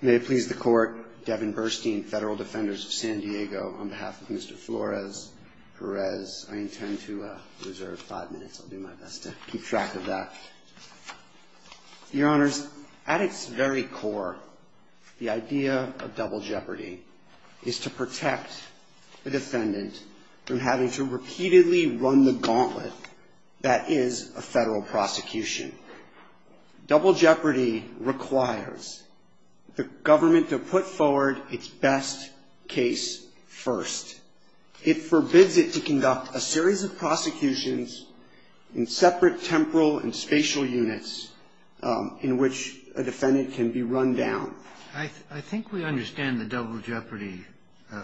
May it please the Court, Devin Burstein, Federal Defenders of San Diego, on behalf of Mr. Flores-Perez. I intend to reserve five minutes. I'll do my best to keep track of that. Your Honors, at its very core, the idea of double jeopardy is to protect the defendant from having to repeatedly run the gauntlet that is a federal prosecution. Double jeopardy requires the government to put forward its best case first. It forbids it to conduct a series of prosecutions in separate temporal and spatial units in which a defendant can be run down. I think we understand the double jeopardy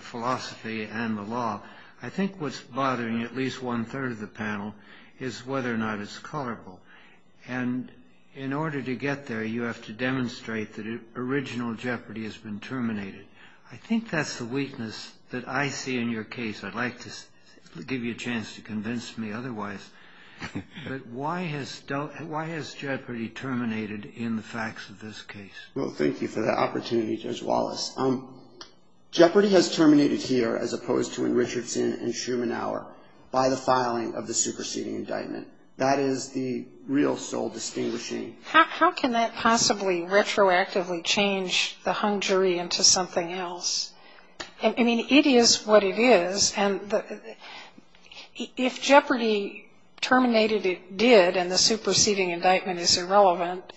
philosophy and the law. I think what's bothering at least one-third of the panel is whether or not it's colorable. And in order to get there, you have to demonstrate that original jeopardy has been terminated. I think that's the weakness that I see in your case. I'd like to give you a chance to convince me otherwise. But why has jeopardy terminated in the facts of this case? Well, thank you for that opportunity, Judge Wallace. Jeopardy has terminated here, as opposed to in Richardson and Schumann Hour, by the filing of the superseding indictment. That is the real soul distinguishing. How can that possibly retroactively change the hung jury into something else? I mean, it is what it is. And if jeopardy terminated, it did, and the superseding indictment is irrelevant.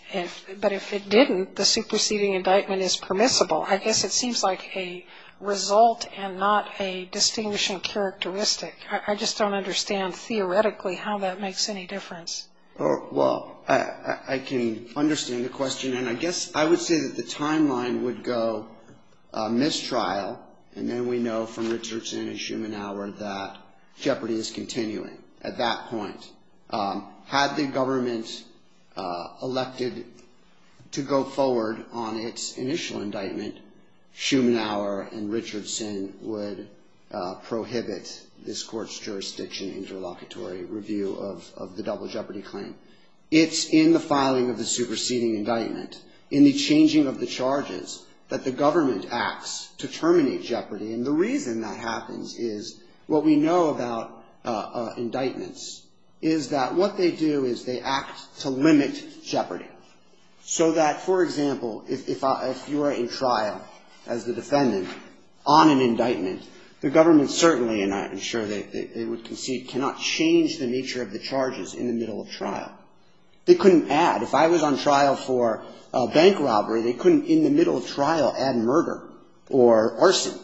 But if it didn't, the superseding indictment is permissible. I guess it seems like a result and not a distinguishing characteristic. I just don't understand theoretically how that makes any difference. Well, I can understand the question, and I guess I would say that the timeline would go mistrial, and then we know from Richardson and Schumann Hour that jeopardy is continuing at that point. Had the government elected to go forward on its initial indictment, Schumann Hour and Richardson would prohibit this court's jurisdiction interlocutory review of the double jeopardy claim. It's in the filing of the superseding indictment, in the changing of the charges, that the government acts to terminate jeopardy. And the reason that happens is what we know about indictments is that what they do is they act to limit jeopardy. So that, for example, if you are in trial as the defendant on an indictment, the government certainly, and I'm sure they would concede, cannot change the nature of the charges in the middle of trial. They couldn't add. If I was on trial for a bank robbery, they couldn't, in the middle of trial, add murder or arson.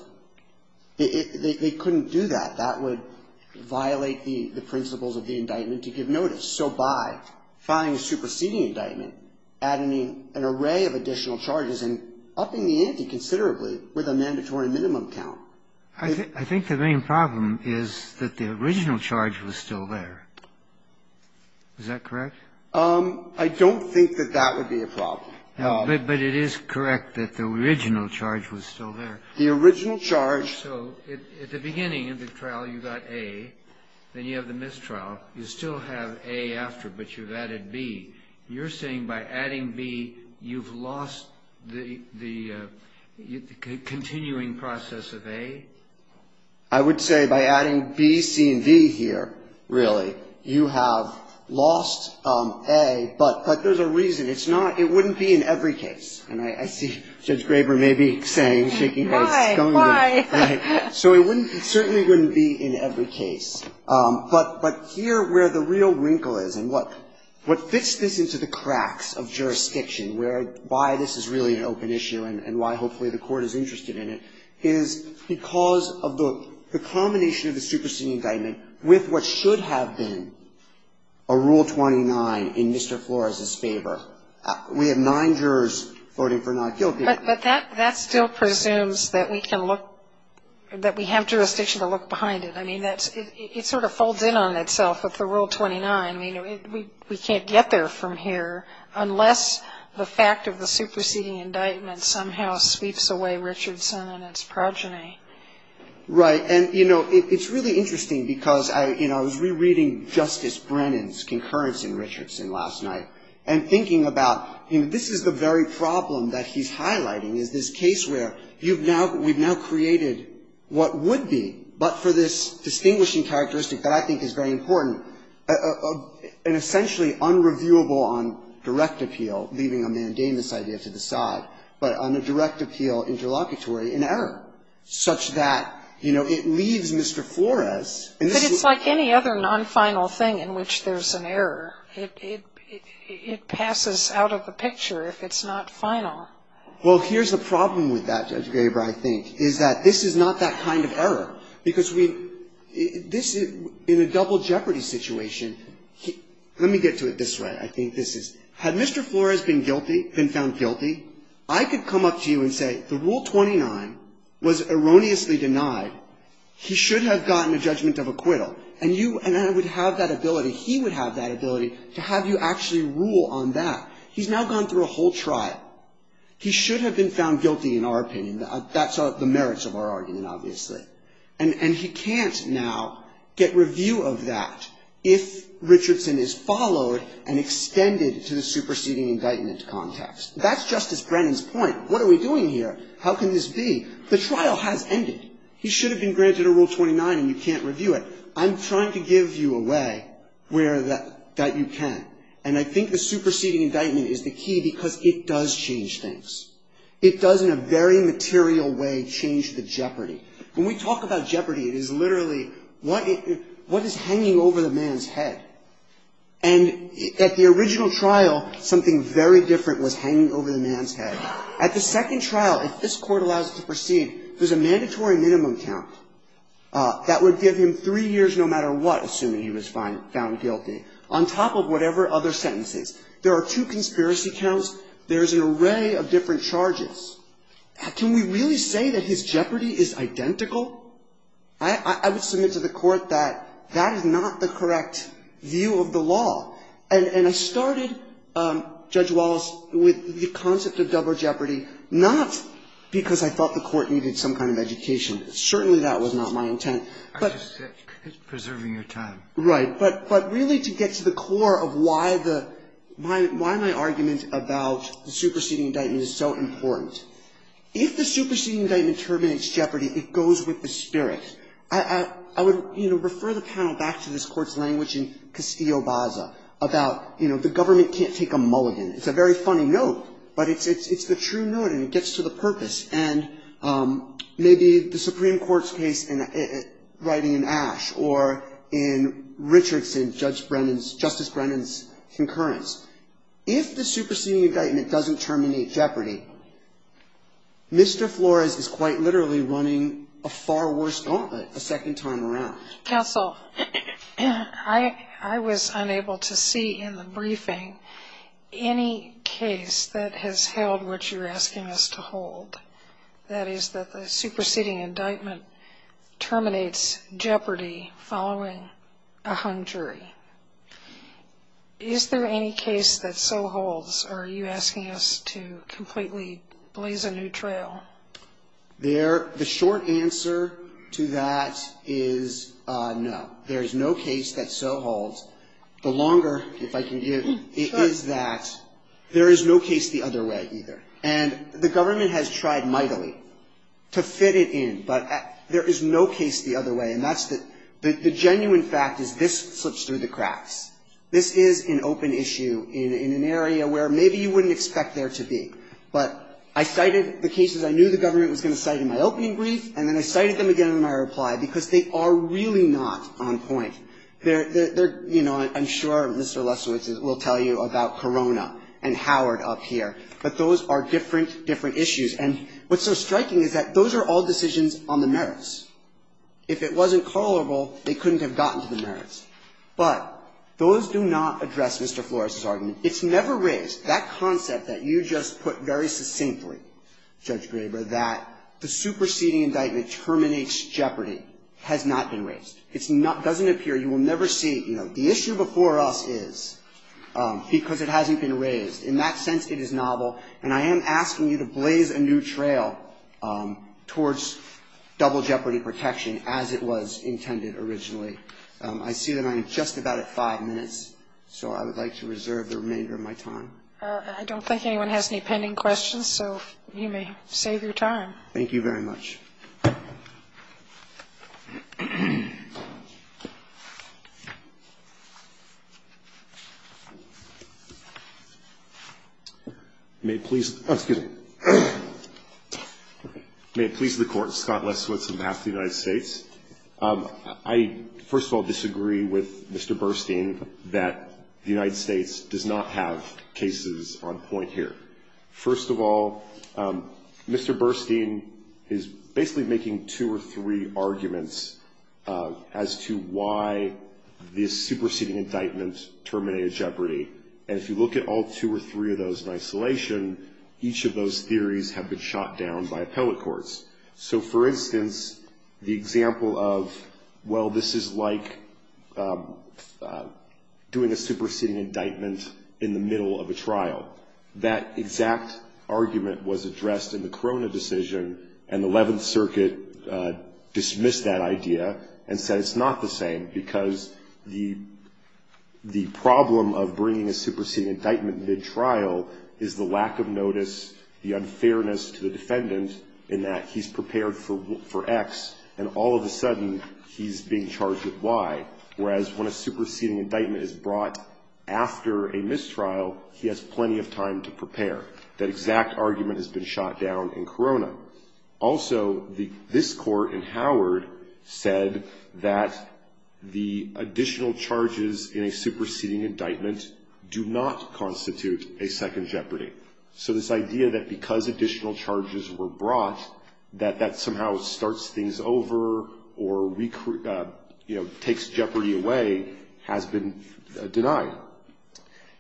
They couldn't do that. That would violate the principles of the indictment to give notice. So by filing a superseding indictment, adding an array of additional charges and upping the ante considerably with a mandatory minimum count. I think the main problem is that the original charge was still there. Is that correct? I don't think that that would be a problem. But it is correct that the original charge was still there. The original charge. So at the beginning of the trial, you got A. Then you have the mistrial. You still have A after, but you've added B. You're saying by adding B, you've lost the continuing process of A? I would say by adding B, C, and D here, really, you have lost A, but there's a reason. It's not, it wouldn't be in every case. And I see Judge Graber maybe saying, shaking her head. Why? Why? So it wouldn't, it certainly wouldn't be in every case. But here where the real wrinkle is, and what fits this into the cracks of jurisdiction, where why this is really an open issue and why hopefully the Court is interested in it, is because of the combination of the superseding indictment with what should have been a Rule 29 in Mr. Flores's favor. We have nine jurors voting for not guilty. But that still presumes that we can look, that we have jurisdiction to look behind it. I mean, that's, it sort of folds in on itself with the Rule 29. I mean, we can't get there from here unless the fact of the superseding indictment somehow sweeps away Richardson and its progeny. Right. And, you know, it's really interesting because I, you know, I was rereading Justice Brennan's concurrence in Richardson last night and thinking about, you know, this is the very problem that he's highlighting is this case where you've now, we've now created what would be, but for this distinguishing characteristic that I think is very important, an essentially unreviewable on direct appeal, leaving a mandamus idea to the side, but on a direct appeal interlocutory in error, such that, you know, it leaves Mr. Flores. But it's like any other non-final thing in which there's an error. It passes out of the picture if it's not final. Well, here's the problem with that, Judge Gaber, I think, is that this is not that kind of error because we, this is in a double jeopardy situation. Let me get to it this way. I think this is, had Mr. Flores been guilty, been found guilty, I could come up to you and say the Rule 29 was erroneously denied. He should have gotten a judgment of acquittal. And you, and I would have that ability, he would have that ability to have you actually rule on that. He's now gone through a whole trial. He should have been found guilty in our opinion. That's the merits of our argument, obviously. And he can't now get review of that if Richardson is followed and extended to the superseding indictment context. That's Justice Brennan's point. What are we doing here? How can this be? The trial has ended. He should have been granted a Rule 29 and you can't review it. I'm trying to give you a way where that you can. And I think the superseding indictment is the key because it does change things. It does, in a very material way, change the jeopardy. When we talk about jeopardy, it is literally what is hanging over the man's head. And at the original trial, something very different was hanging over the man's head. At the second trial, if this Court allows it to proceed, there's a mandatory minimum count that would give him three years no matter what, assuming he was found guilty, on top of whatever other sentences. There are two conspiracy counts. There's an array of different charges. Can we really say that his jeopardy is identical? I would submit to the Court that that is not the correct view of the law. And I started, Judge Wallace, with the concept of double jeopardy, not because I thought the Court needed some kind of education. Certainly that was not my intent. But really to get to the core of why the – why my argument about double jeopardy and how the superseding indictment is so important. If the superseding indictment terminates jeopardy, it goes with the spirit. I would, you know, refer the panel back to this Court's language in Castillo-Baza about, you know, the government can't take a mulligan. It's a very funny note, but it's the true note and it gets to the purpose. And maybe the Supreme Court's case in – writing in Ash or in Richardson, Judge Brennan's – Justice Brennan's concurrence. If the superseding indictment doesn't terminate jeopardy, Mr. Flores is quite literally running a far worse gauntlet a second time around. Counsel, I was unable to see in the briefing any case that has held what you're asking us to hold, that is that the superseding indictment terminates jeopardy following a hung jury. Is there any case that so holds, or are you asking us to completely blaze a new trail? There – the short answer to that is no. There is no case that so holds. The longer, if I can give, it is that there is no case the other way either. And the government has tried mightily to fit it in, but there is no case the other way. And that's the – the genuine fact is this slips through the cracks. This is an open issue in an area where maybe you wouldn't expect there to be. But I cited the cases I knew the government was going to cite in my opening brief, and then I cited them again in my reply because they are really not on point. They're – you know, I'm sure Mr. Lesowitz will tell you about Corona and Howard up here, but those are different, different issues. And what's so striking is that those are all decisions on the merits. If it wasn't callable, they couldn't have gotten to the merits. But those do not address Mr. Flores's argument. It's never raised. That concept that you just put very succinctly, Judge Graber, that the superseding indictment terminates Jeopardy has not been raised. It's not – doesn't appear. You will never see, you know, the issue before us is because it hasn't been raised. In that sense, it is novel. And I am asking you to blaze a new trail towards double Jeopardy protection as it was intended originally. I see that I am just about at five minutes, so I would like to reserve the remainder of my time. I don't think anyone has any pending questions, so you may save your time. Thank you very much. May it please the Court. Scott Lesswitz on behalf of the United States. I, first of all, disagree with Mr. Burstein that the United States does not have cases on point here. First of all, Mr. Burstein is basically making two or three arguments as to why this superseding indictment terminated Jeopardy. And if you look at all two or three of those in isolation, each of those theories have been shot down by appellate courts. So, for instance, the example of, well, this is like doing a superseding indictment in the middle of a trial. That exact argument was addressed in the Corona decision, and the Eleventh Circuit dismissed that idea and said it's not the same because the problem of bringing a superseding indictment mid-trial is the lack of notice, the unfairness to the defendant in that he's prepared for X, and all of a sudden he's being charged with Y. Whereas when a superseding indictment is brought after a mistrial, he has plenty of time to prepare. That exact argument has been shot down in Corona. Also, this Court in Howard said that the additional charges in a superseding indictment do not constitute a second Jeopardy. So this idea that because additional charges were brought, that that somehow starts things over or, you know, takes Jeopardy away has been denied.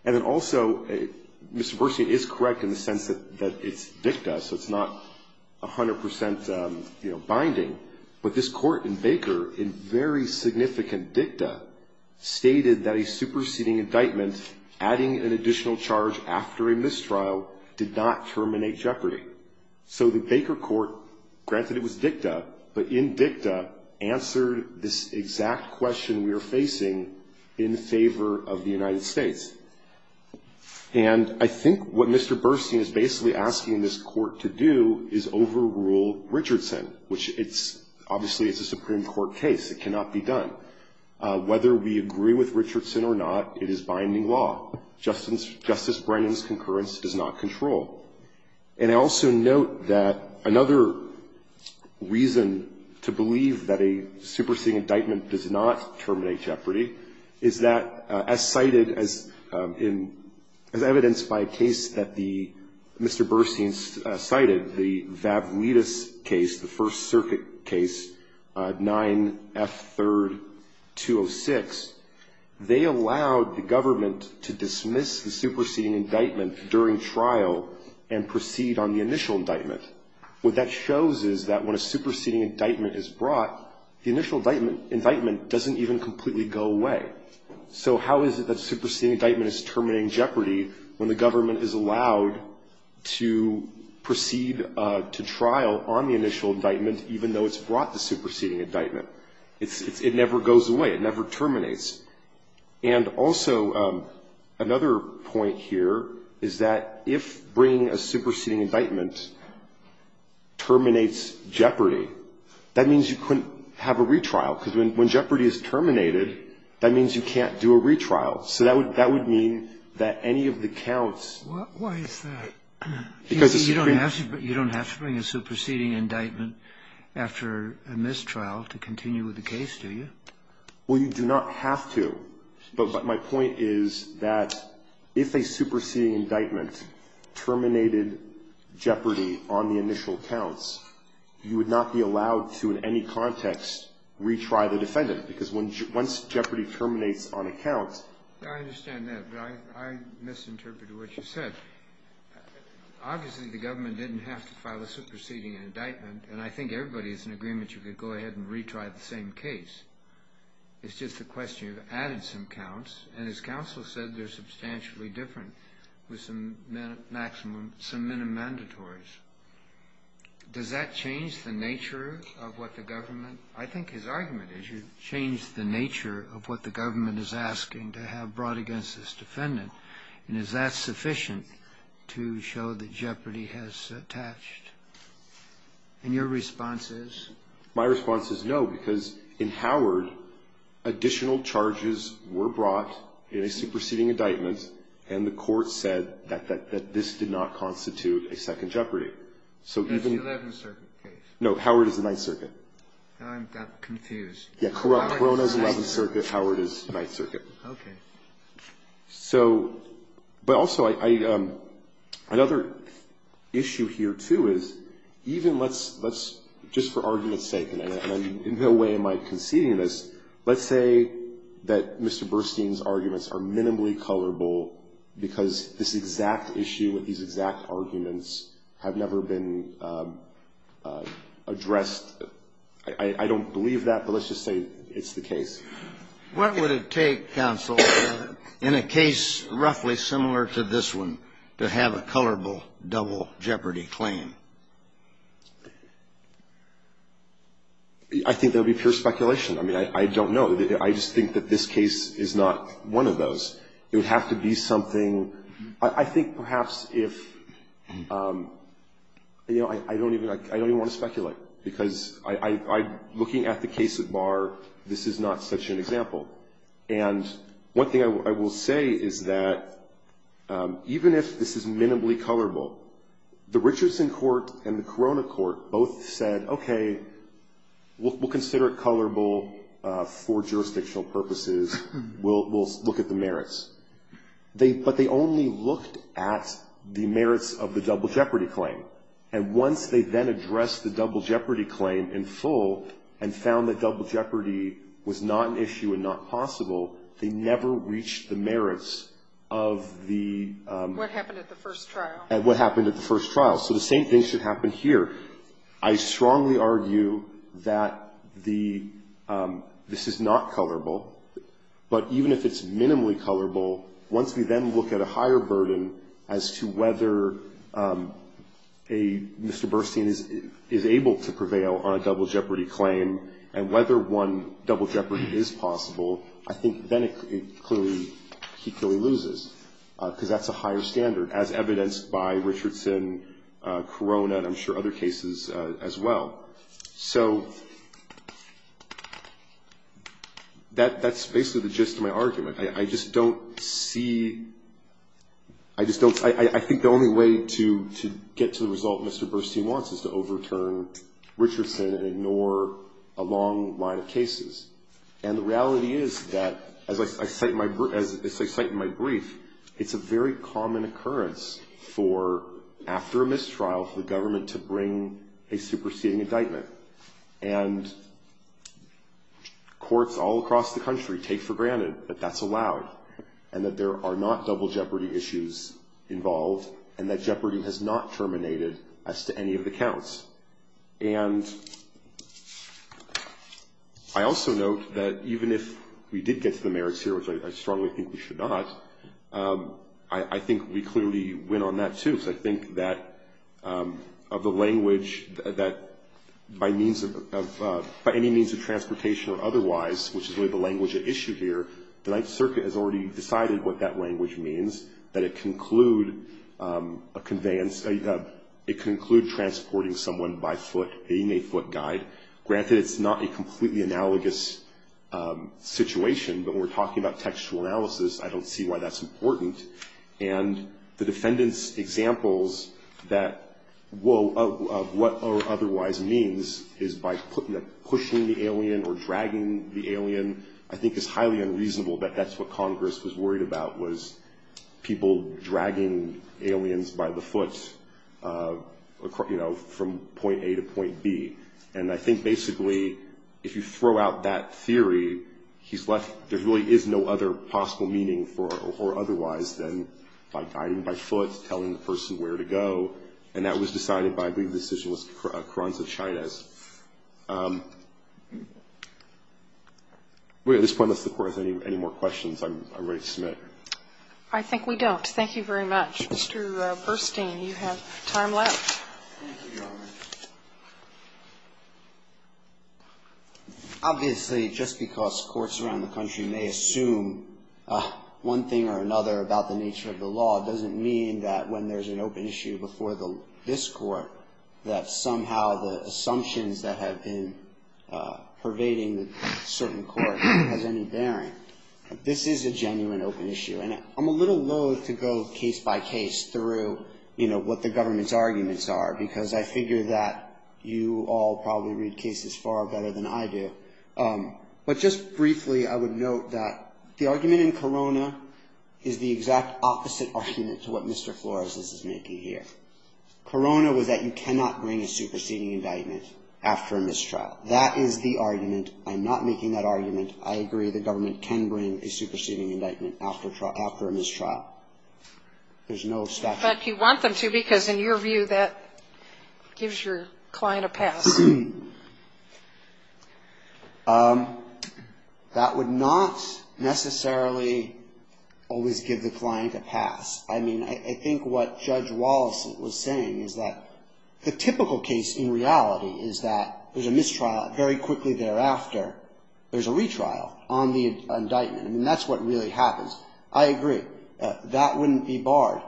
And then also, Mr. Bersiani is correct in the sense that it's dicta, so it's not 100 percent, you know, binding. But this Court in Baker, in very significant dicta, stated that a superseding indictment adding an additional charge after a mistrial did not terminate Jeopardy. So the Baker Court, granted it was dicta, but in dicta answered this exact question we are facing in favor of the United States. And I think what Mr. Bersiani is basically asking this Court to do is overrule Richardson, which it's, obviously, it's a Supreme Court case. It cannot be done. Whether we agree with Richardson or not, it is binding law. Justice Brennan's concurrence does not control. And I also note that another reason to believe that a superseding indictment does not terminate Jeopardy is that, as cited as in, as evidenced by a case that the, Mr. Bersiani cited, the Vavlitas case, the First Circuit case, 9F3rd 206. They allowed the government to dismiss the superseding indictment during trial and proceed on the initial indictment. What that shows is that when a superseding indictment is brought, the initial indictment doesn't even completely go away. So how is it that a superseding indictment is terminating Jeopardy when the government is allowed to proceed to trial on the initial indictment even though it's brought the superseding indictment? It never goes away. It never terminates. And also, another point here is that if bringing a superseding indictment terminates Jeopardy, that means you couldn't have a retrial, because when Jeopardy is terminated, that means you can't do a retrial. So that would mean that any of the counts. Why is that? Because it's supreme. You don't have to bring a superseding indictment after a mistrial to continue with the case, do you? Well, you do not have to, but my point is that if a superseding indictment terminated Jeopardy on the initial counts, you would not be allowed to in any context retry the defendant, because once Jeopardy terminates on a count. I understand that, but I misinterpreted what you said. Obviously, the government didn't have to file a superseding indictment, and I think everybody is in agreement you could go ahead and retry the same case. It's just a question. You've added some counts, and as counsel said, they're substantially different with some minimum mandatories. Does that change the nature of what the government? I think his argument is you change the nature of what the government is asking to have brought against this defendant, and is that sufficient to show that Jeopardy has attached? And your response is? My response is no, because in Howard, additional charges were brought in a superseding indictment, and the court said that this did not constitute a second Jeopardy. That's the 11th Circuit case. No, Howard is the 9th Circuit. Now I'm confused. Yeah, Corona is the 11th Circuit, Howard is the 9th Circuit. Okay. So, but also another issue here, too, is even let's just for argument's sake, and in no way am I conceding this, let's say that Mr. Burstein's arguments are minimally colorable because this exact issue and these exact arguments have never been addressed. I don't believe that, but let's just say it's the case. What would it take, counsel, in a case roughly similar to this one, to have a colorable double Jeopardy claim? I think that would be pure speculation. I mean, I don't know. I just think that this case is not one of those. It would have to be something, I think perhaps if, you know, I don't even want to speculate, because I'm looking at the case at bar, this is not such an example. And one thing I will say is that even if this is minimally colorable, the Richardson court and the Corona court both said, okay, we'll consider it colorable for jurisdictional purposes. We'll look at the merits. But they only looked at the merits of the double Jeopardy claim. And once they then addressed the double Jeopardy claim in full and found that double Jeopardy was not an issue and not possible, they never reached the merits of the ‑‑ What happened at the first trial. And what happened at the first trial. So the same thing should happen here. I strongly argue that this is not colorable. But even if it's minimally colorable, once we then look at a higher burden as to whether a ‑‑ Mr. Burstein is able to prevail on a double Jeopardy claim and whether one double Jeopardy is possible, I think then it clearly ‑‑ he clearly loses, because that's a higher standard, as evidenced by Richardson, Corona, and I'm sure other cases as well. So that's basically the gist of my argument. I just don't see ‑‑ I think the only way to get to the result Mr. Burstein wants is to overturn Richardson and ignore a long line of cases. And the reality is that, as I cite in my brief, it's a very common occurrence for, after a mistrial, for the government to bring a superseding indictment. And courts all across the country take for granted that that's allowed and that there are not double Jeopardy issues involved and that Jeopardy has not terminated as to any of the counts. And I also note that even if we did get to the merits here, which I strongly think we should not, I think we clearly win on that, too. Because I think that of the language that by means of ‑‑ by any means of transportation or otherwise, which is really the language at issue here, the Ninth Circuit has already decided what that language means, that it conclude a conveyance ‑‑ it conclude transporting someone by foot, being a foot guide. Granted, it's not a completely analogous situation, but when we're talking about textual analysis, I don't see why that's important. And the defendant's examples of what otherwise means is by pushing the alien or dragging the alien, I think it's highly unreasonable that that's what Congress was worried about, was people dragging aliens by the foot from point A to point B. And I think basically if you throw out that theory, there really is no other possible meaning for or otherwise than by guiding by foot, telling the person where to go, and that was decided by I believe the decision was Carranza-Chavez. At this point, unless the Court has any more questions, I'm ready to submit. I think we don't. Thank you very much. Mr. Burstein, you have time left. Thank you, Your Honor. Obviously, just because courts around the country may assume one thing or another about the nature of the law doesn't mean that when there's an open issue before this Court that somehow the assumptions that have been pervading the certain court has any bearing. This is a genuine open issue, and I'm a little loathe to go case by case through what the government's arguments are because I figure that you all probably read cases far better than I do. But just briefly, I would note that the argument in Corona is the exact opposite argument to what Mr. Flores is making here. Corona was that you cannot bring a superseding indictment after a mistrial. That is the argument. I'm not making that argument. I agree the government can bring a superseding indictment after a mistrial. There's no statute. But you want them to because, in your view, that gives your client a pass. That would not necessarily always give the client a pass. I mean, I think what Judge Wallace was saying is that the typical case in reality is that there's a mistrial. Very quickly thereafter, there's a retrial on the indictment, and that's what really happens. I agree. That wouldn't be barred.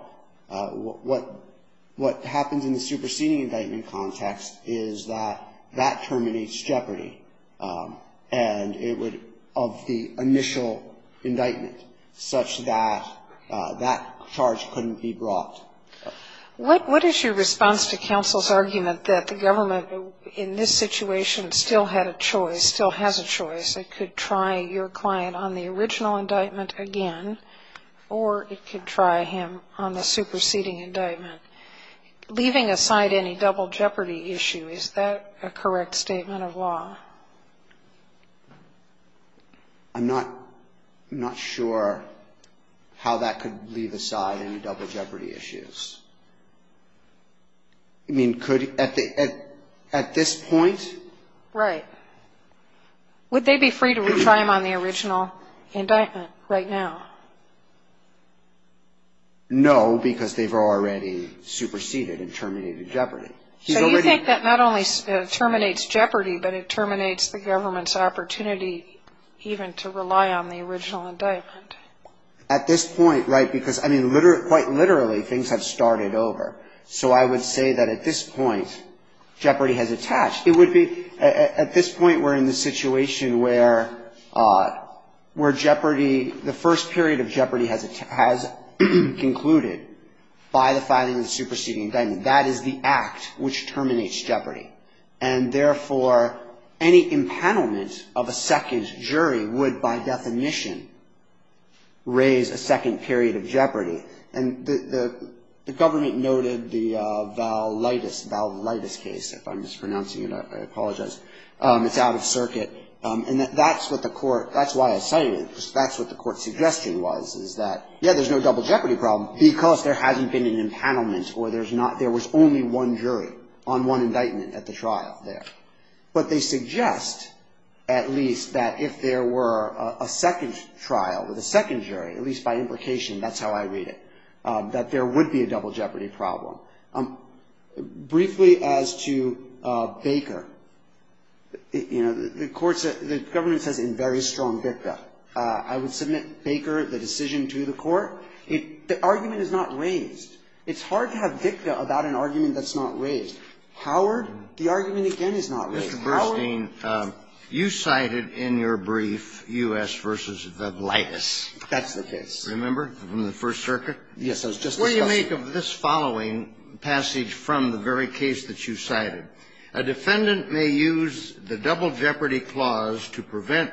What happens in the superseding indictment context is that that terminates jeopardy, and it would, of the initial indictment, such that that charge couldn't be brought. What is your response to counsel's argument that the government, in this situation, still had a choice, still has a choice? It could try your client on the original indictment again, or it could try him on the superseding indictment. Leaving aside any double jeopardy issue, is that a correct statement of law? I'm not sure how that could leave aside any double jeopardy issues. I mean, could at this point? Right. Would they be free to retry him on the original indictment right now? No, because they've already superseded and terminated jeopardy. So you think that not only terminates jeopardy, but it terminates the government's opportunity even to rely on the original indictment? At this point, right, because, I mean, quite literally, things have started over. So I would say that at this point, jeopardy has attached. It would be at this point we're in the situation where jeopardy, the first period of jeopardy has concluded by the filing of the superseding indictment. That is the act which terminates jeopardy. And therefore, any impanelment of a second jury would, by definition, raise a second period of jeopardy. And the government noted the Valaitis case, if I'm mispronouncing it. I apologize. It's out of circuit. And that's what the court, that's why I cited it, because that's what the court's suggestion was, is that, yeah, there's no double jeopardy problem, because there hasn't been an impanelment or there's not, there was only one jury on one indictment at the trial there. But they suggest, at least, that if there were a second trial with a second jury, at least by implication, that's how I read it, that there would be a double jeopardy problem. Briefly as to Baker, you know, the court said, the government says in very strong BICA, I would submit, Baker, the decision to the court. The argument is not raised. It's hard to have BICA about an argument that's not raised. Howard, the argument, again, is not raised. Howard? Kennedy, you cited in your brief U.S. v. Valaitis. That's the case. Remember? From the First Circuit? Yes. I was just discussing it. What do you make of this following passage from the very case that you cited? A defendant may use the double jeopardy clause to prevent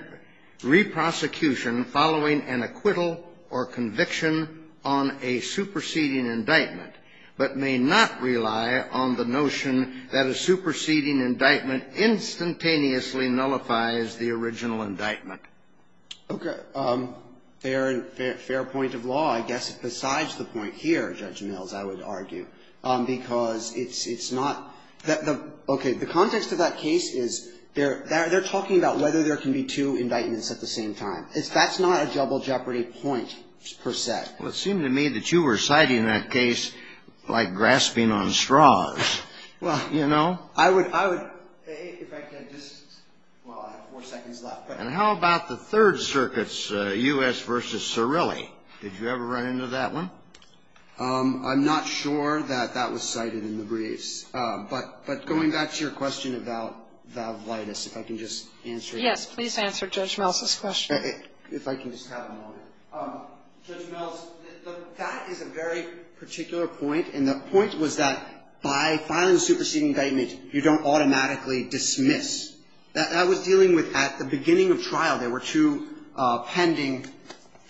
reprosecution following an acquittal or conviction on a superseding indictment, but may not rely on the notion that a superseding indictment instantaneously nullifies the original indictment. Okay. Fair point of law, I guess, besides the point here, Judge Mills, I would argue, because it's not, okay, the context of that case is they're talking about whether there can be two indictments at the same time. That's not a double jeopardy point, per se. Well, it seemed to me that you were citing that case like grasping on straws, you know? Well, I would, if I could just, well, I have four seconds left. And how about the Third Circuit's U.S. v. Cirilli? Did you ever run into that one? I'm not sure that that was cited in the briefs. But going back to your question about valvidus, if I can just answer that. Yes. Please answer Judge Mills's question. If I can just have a moment. Judge Mills, that is a very particular point, and the point was that by filing a superseding indictment, you don't automatically dismiss. That was dealing with at the beginning of trial. There were two pending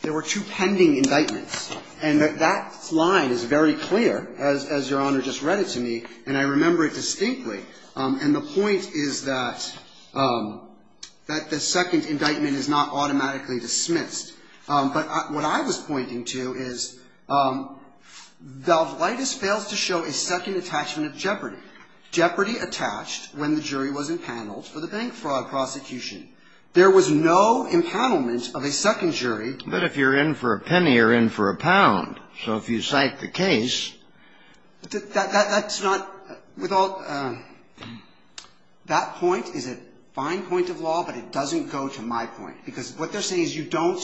indictments. And that line is very clear, as Your Honor just read it to me, and I remember it distinctly. And the point is that the second indictment is not automatically dismissed. But what I was pointing to is valvidus fails to show a second attachment of jeopardy. Jeopardy attached when the jury was empaneled for the bank fraud prosecution. There was no empanelment of a second jury. But if you're in for a penny, you're in for a pound. So if you cite the case. That's not, with all, that point is a fine point of law, but it doesn't go to my point. Because what they're saying is you don't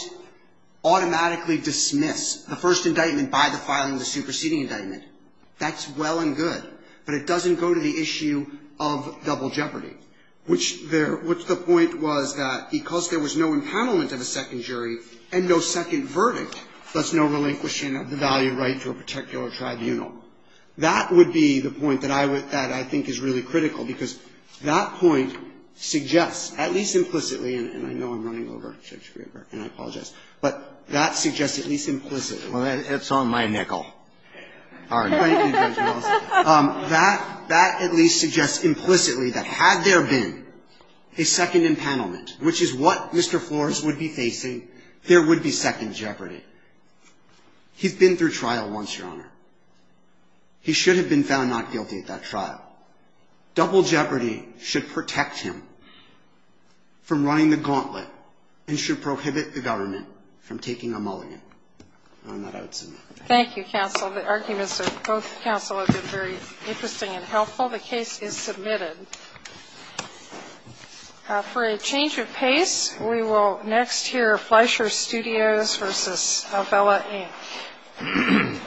automatically dismiss the first indictment by the filing of the superseding indictment. That's well and good. But it doesn't go to the issue of double jeopardy, which there, which the point was that because there was no empanelment of a second jury and no second verdict, thus no relinquishing of the value right to a particular tribunal. That would be the point that I would, that I think is really critical, because that point suggests, at least implicitly, and I know I'm running over, and I apologize, but that suggests at least implicitly. Kennedy. Well, it's on my nickel. All right. That at least suggests implicitly that had there been a second empanelment, which is what Mr. Flores would be facing, there would be second jeopardy. He's been through trial once, Your Honor. He should have been found not guilty at that trial. Double jeopardy should protect him from running the gauntlet and should prohibit the government from taking a mulligan. And on that, I would submit. Thank you, counsel. The arguments of both counsel have been very interesting and helpful. The case is submitted. For a change of pace, we will next hear Fleischer Studios v. Abella, Inc.